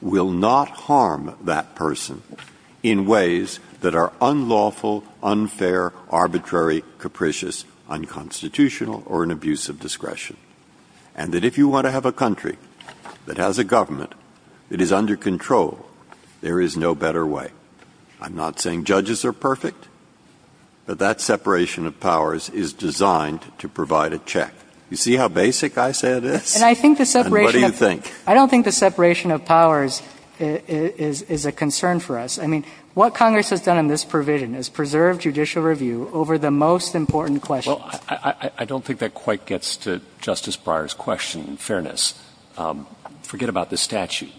will not harm that person in ways that are unlawful, unfair, arbitrary, capricious, unconstitutional, or an abuse of discretion, and that if you want to have a country that has a government that is under control, there is no better way. I'm not saying judges are perfect, but that separation of powers is designed to provide a check. You see how basic I say it is? And what do you think? I don't think the separation of powers is a concern for us. I mean, what Congress has done in this provision is preserve judicial review over the most important questions. Well, I don't think that quite gets to Justice Breyer's question, in fairness. Forget about this statute.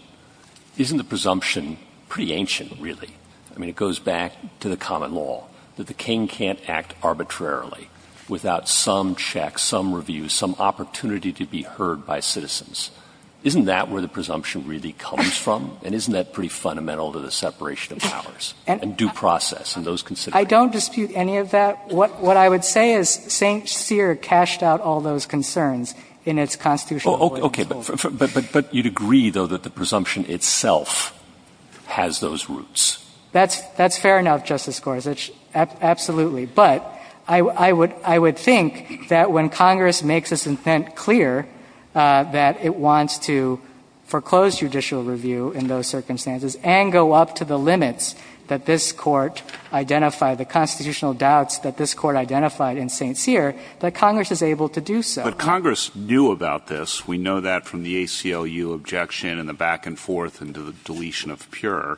Isn't the presumption pretty ancient, really? I mean, it goes back to the common law, that the king can't act arbitrarily without some check, some review, some opportunity to be heard by citizens. Isn't that where the presumption really comes from? And isn't that pretty fundamental to the separation of powers? And due process and those considerations? I don't dispute any of that. What I would say is St. Cyr cashed out all those concerns in its constitutional ruling. Okay. But you'd agree, though, that the presumption itself has those roots? That's fair enough, Justice Gorsuch, absolutely. But I would think that when Congress makes its intent clear that it wants to foreclose judicial review in those circumstances and go up to the limits that this Court identified, the constitutional doubts that this Court identified in St. Cyr, that Congress is able to do so. But Congress knew about this. We know that from the ACLU objection and the back-and-forth into the deletion of the purer.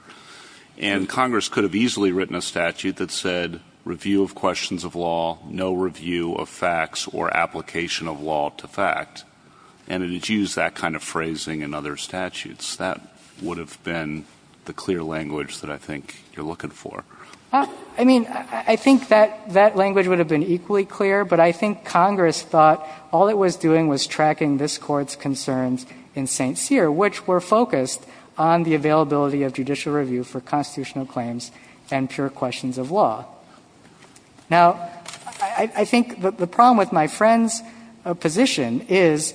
And Congress could have easily written a statute that said review of questions of law, no review of facts or application of law to fact. And it had used that kind of phrasing in other statutes. That would have been the clear language that I think you're looking for. Well, I mean, I think that language would have been equally clear. But I think Congress thought all it was doing was tracking this Court's concerns in St. Cyr, which were focused on the availability of judicial review for constitutional claims and pure questions of law. Now, I think the problem with my friend's position is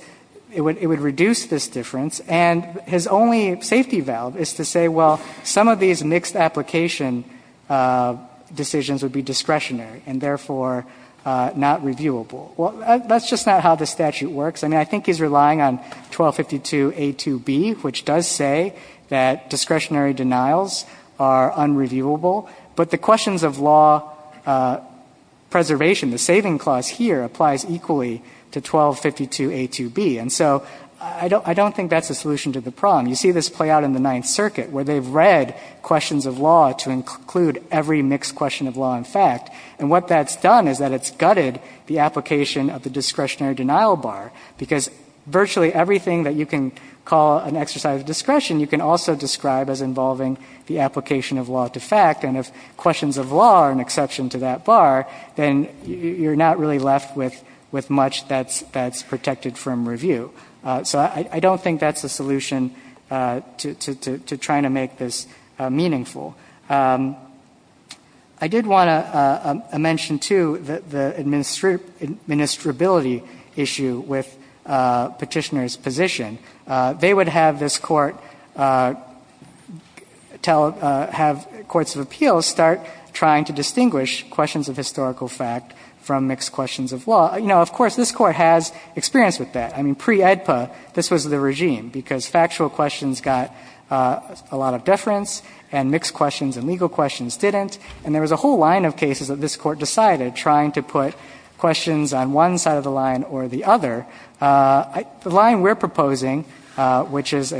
it would reduce this difference. And his only safety valve is to say, well, some of these mixed application decisions would be discretionary and therefore not reviewable. Well, that's just not how the statute works. I mean, I think he's relying on 1252a2b, which does say that discretionary denials are unreviewable. But the questions of law preservation, the saving clause here applies equally to 1252a2b. And so I don't think that's a solution to the problem. You see this play out in the Ninth Circuit, where they've read questions of law to include every mixed question of law and fact. And what that's done is that it's gutted the application of the discretionary denial bar, because virtually everything that you can call an exercise of discretion, you can also describe as involving the application of law to fact. And if questions of law are an exception to that bar, then you're not really left with much that's protected from review. So I don't think that's a solution to trying to make this meaningful. I did want to mention, too, the administrability issue with Petitioner's position. They would have this Court tell, have courts of appeals start trying to distinguish questions of historical fact from mixed questions of law. You know, of course, this Court has experience with that. I mean, pre-AEDPA, this was the regime, because factual questions got a lot of deference and mixed questions and legal questions didn't. And there was a whole line of cases that this Court decided trying to put questions on one side of the line or the other. The line we're proposing, which is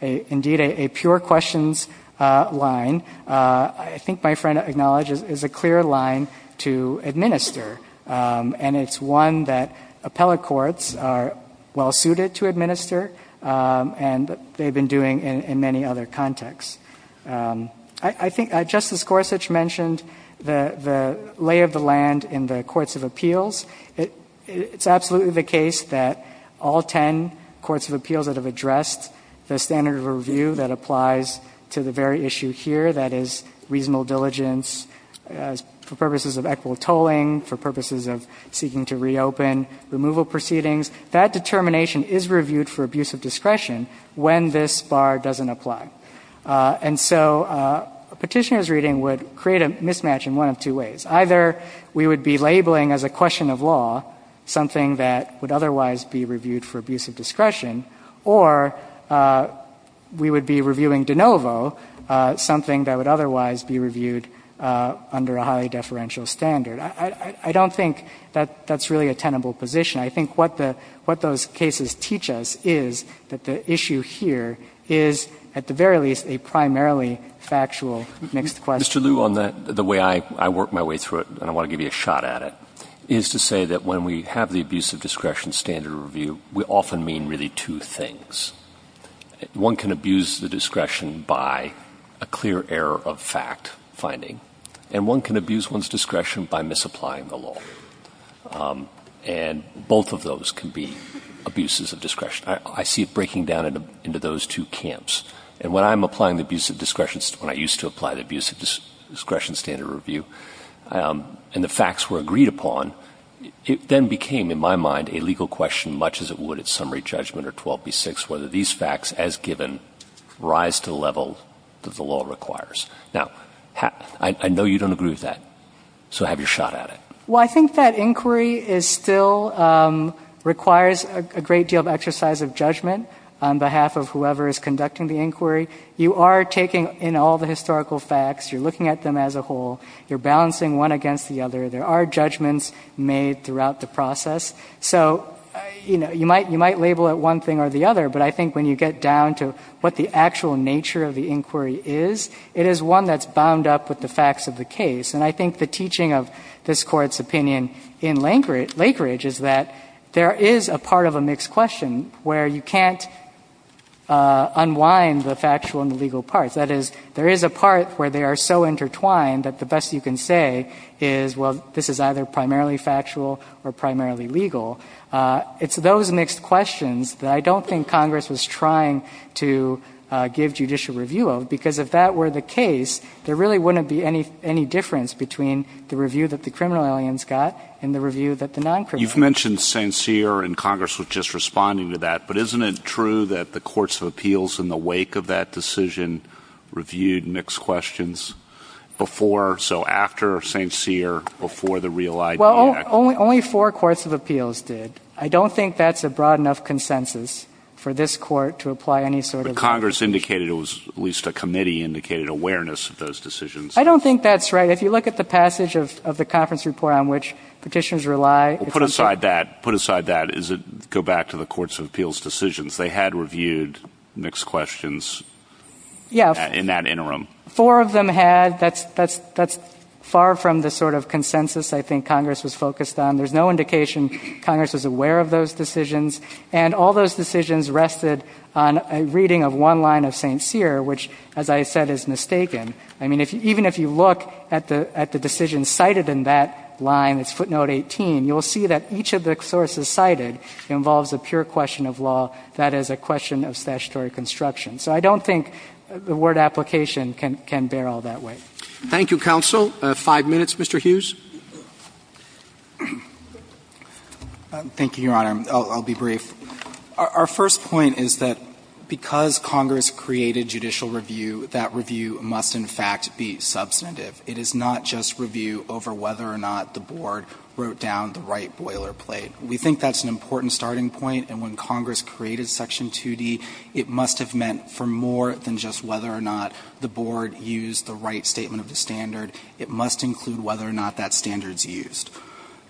indeed a pure questions line, I think my friend acknowledges is a clear line to administer. And it's one that appellate courts are well-suited to administer and they've been doing in many other contexts. I think Justice Gorsuch mentioned the lay of the land in the courts of appeals. It's absolutely the case that all 10 courts of appeals that have addressed the standard of review that applies to the very issue here, that is reasonable diligence for purposes of equitable tolling, for purposes of seeking to reopen, removal proceedings, that determination is reviewed for abuse of discretion when this bar doesn't apply. And so Petitioner's reading would create a mismatch in one of two ways. Either we would be labeling as a question of law something that would otherwise be reviewed for abuse of discretion, or we would be reviewing de novo something that would otherwise be reviewed under a highly deferential standard. I don't think that that's really a tenable position. I think what those cases teach us is that the issue here is, at the very least, a primarily factual mixed question. Mr. Liu, on that, the way I work my way through it, and I want to give you a shot at it, is to say that when we have the abuse of discretion standard of review, we often mean really two things. One can abuse the discretion by a clear error of fact finding. And one can abuse one's discretion by misapplying the law. And both of those can be abuses of discretion. I see it breaking down into those two camps. And when I'm applying the abuse of discretion, when I used to apply the abuse of discretion standard of review, and the facts were agreed upon, it then became, in my mind, a legal question, much as it would at summary judgment or 12B6, whether these facts, as given, rise to the level that the law requires. Now, I know you don't agree with that. So have your shot at it. Well, I think that inquiry is still, requires a great deal of exercise of judgment on behalf of whoever is conducting the inquiry. You are taking in all the historical facts. You're looking at them as a whole. You're balancing one against the other. There are judgments made throughout the process. So, you know, you might label it one thing or the other. But I think when you get down to what the actual nature of the inquiry is, it is one that's bound up with the facts of the case. And I think the teaching of this Court's opinion in Lakeridge is that there is a part of a mixed question where you can't unwind the factual and the legal parts. That is, there is a part where they are so intertwined that the best you can say is, well, this is either primarily factual or primarily legal. It's those mixed questions that I don't think Congress was trying to give judicial review of, because if that were the case, there really wouldn't be any difference between the review that the criminal aliens got and the review that the non-criminals got. You've mentioned St. Cyr, and Congress was just responding to that. But isn't it true that the Courts of Appeals in the wake of that decision reviewed mixed questions before, so after St. Cyr, before the real idea? Well, only four Courts of Appeals did. I don't think that's a broad enough consensus for this Court to apply any sort of But Congress indicated it was, at least a committee indicated, awareness of those decisions. I don't think that's right. If you look at the passage of the conference report on which Petitioners rely, put aside that, go back to the Courts of Appeals decisions. They had reviewed mixed questions in that interim. Four of them had. That's far from the sort of consensus I think Congress was focused on. There's no indication Congress was aware of those decisions, and all those decisions rested on a reading of one line of St. Cyr, which, as I said, is mistaken. I mean, even if you look at the decision cited in that line, it's footnote 18, you'll see that each of the sources cited involves a pure question of law, that is, a question of statutory construction. So I don't think the word application can bear all that weight. Thank you, counsel. Five minutes, Mr. Hughes. Thank you, Your Honor. I'll be brief. Our first point is that because Congress created judicial review, that review must, in fact, be substantive. It is not just review over whether or not the Board wrote down the right boilerplate. We think that's an important starting point, and when Congress created Section 2D, it must have meant for more than just whether or not the Board used the right statement of the standard. It must include whether or not that standard's used.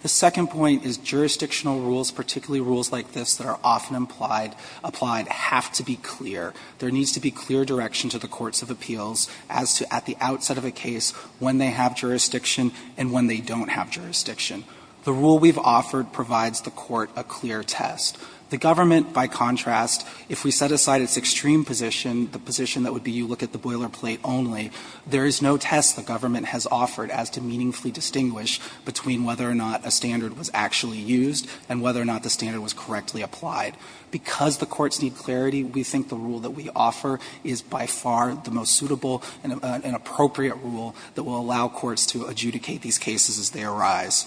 The second point is jurisdictional rules, particularly rules like this that are often implied, applied, have to be clear. There needs to be clear direction to the Courts of Appeals as to, at the outset of a case, when they have jurisdiction and when they don't have jurisdiction. The rule we've offered provides the Court a clear test. The government, by contrast, if we set aside its extreme position, the position that would be you look at the boilerplate only, there is no test the government has offered as to meaningfully distinguish between whether or not a standard was actually used and whether or not the standard was correctly applied. Because the courts need clarity, we think the rule that we offer is by far the most appropriate rule that will allow courts to adjudicate these cases as they arise.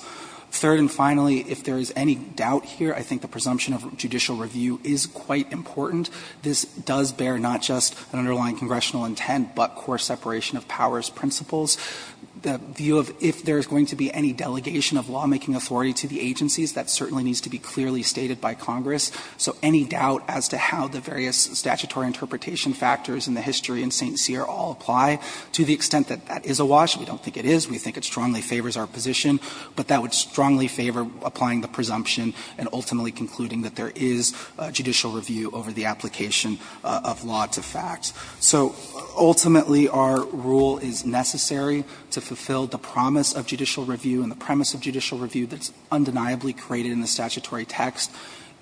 Third and finally, if there is any doubt here, I think the presumption of judicial review is quite important. This does bear not just an underlying congressional intent, but core separation of powers principles. The view of if there is going to be any delegation of lawmaking authority to the agencies, that certainly needs to be clearly stated by Congress. So any doubt as to how the various statutory interpretation factors in the history of the statute in St. Cyr all apply, to the extent that that is a wash, we don't think it is, we think it strongly favors our position, but that would strongly favor applying the presumption and ultimately concluding that there is judicial review over the application of law to fact. So ultimately our rule is necessary to fulfill the promise of judicial review and the premise of judicial review that's undeniably created in the statutory text.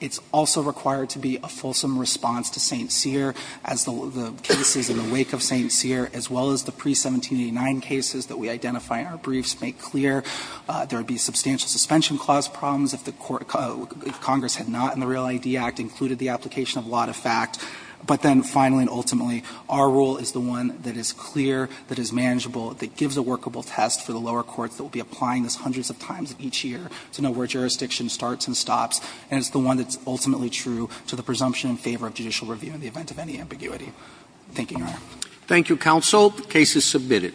It's also required to be a fulsome response to St. Cyr as the cases in the wake of St. Cyr, as well as the pre-1789 cases that we identify in our briefs make clear. There would be substantial suspension clause problems if the Congress had not in the Real ID Act included the application of law to fact. But then finally and ultimately, our rule is the one that is clear, that is manageable, that gives a workable test for the lower courts that will be applying this hundreds of times each year to know where jurisdiction starts and stops. And it's the one that's ultimately true to the presumption in favor of judicial review in the event of any ambiguity. Thank you, Your Honor. Roberts. Thank you, counsel. The case is submitted.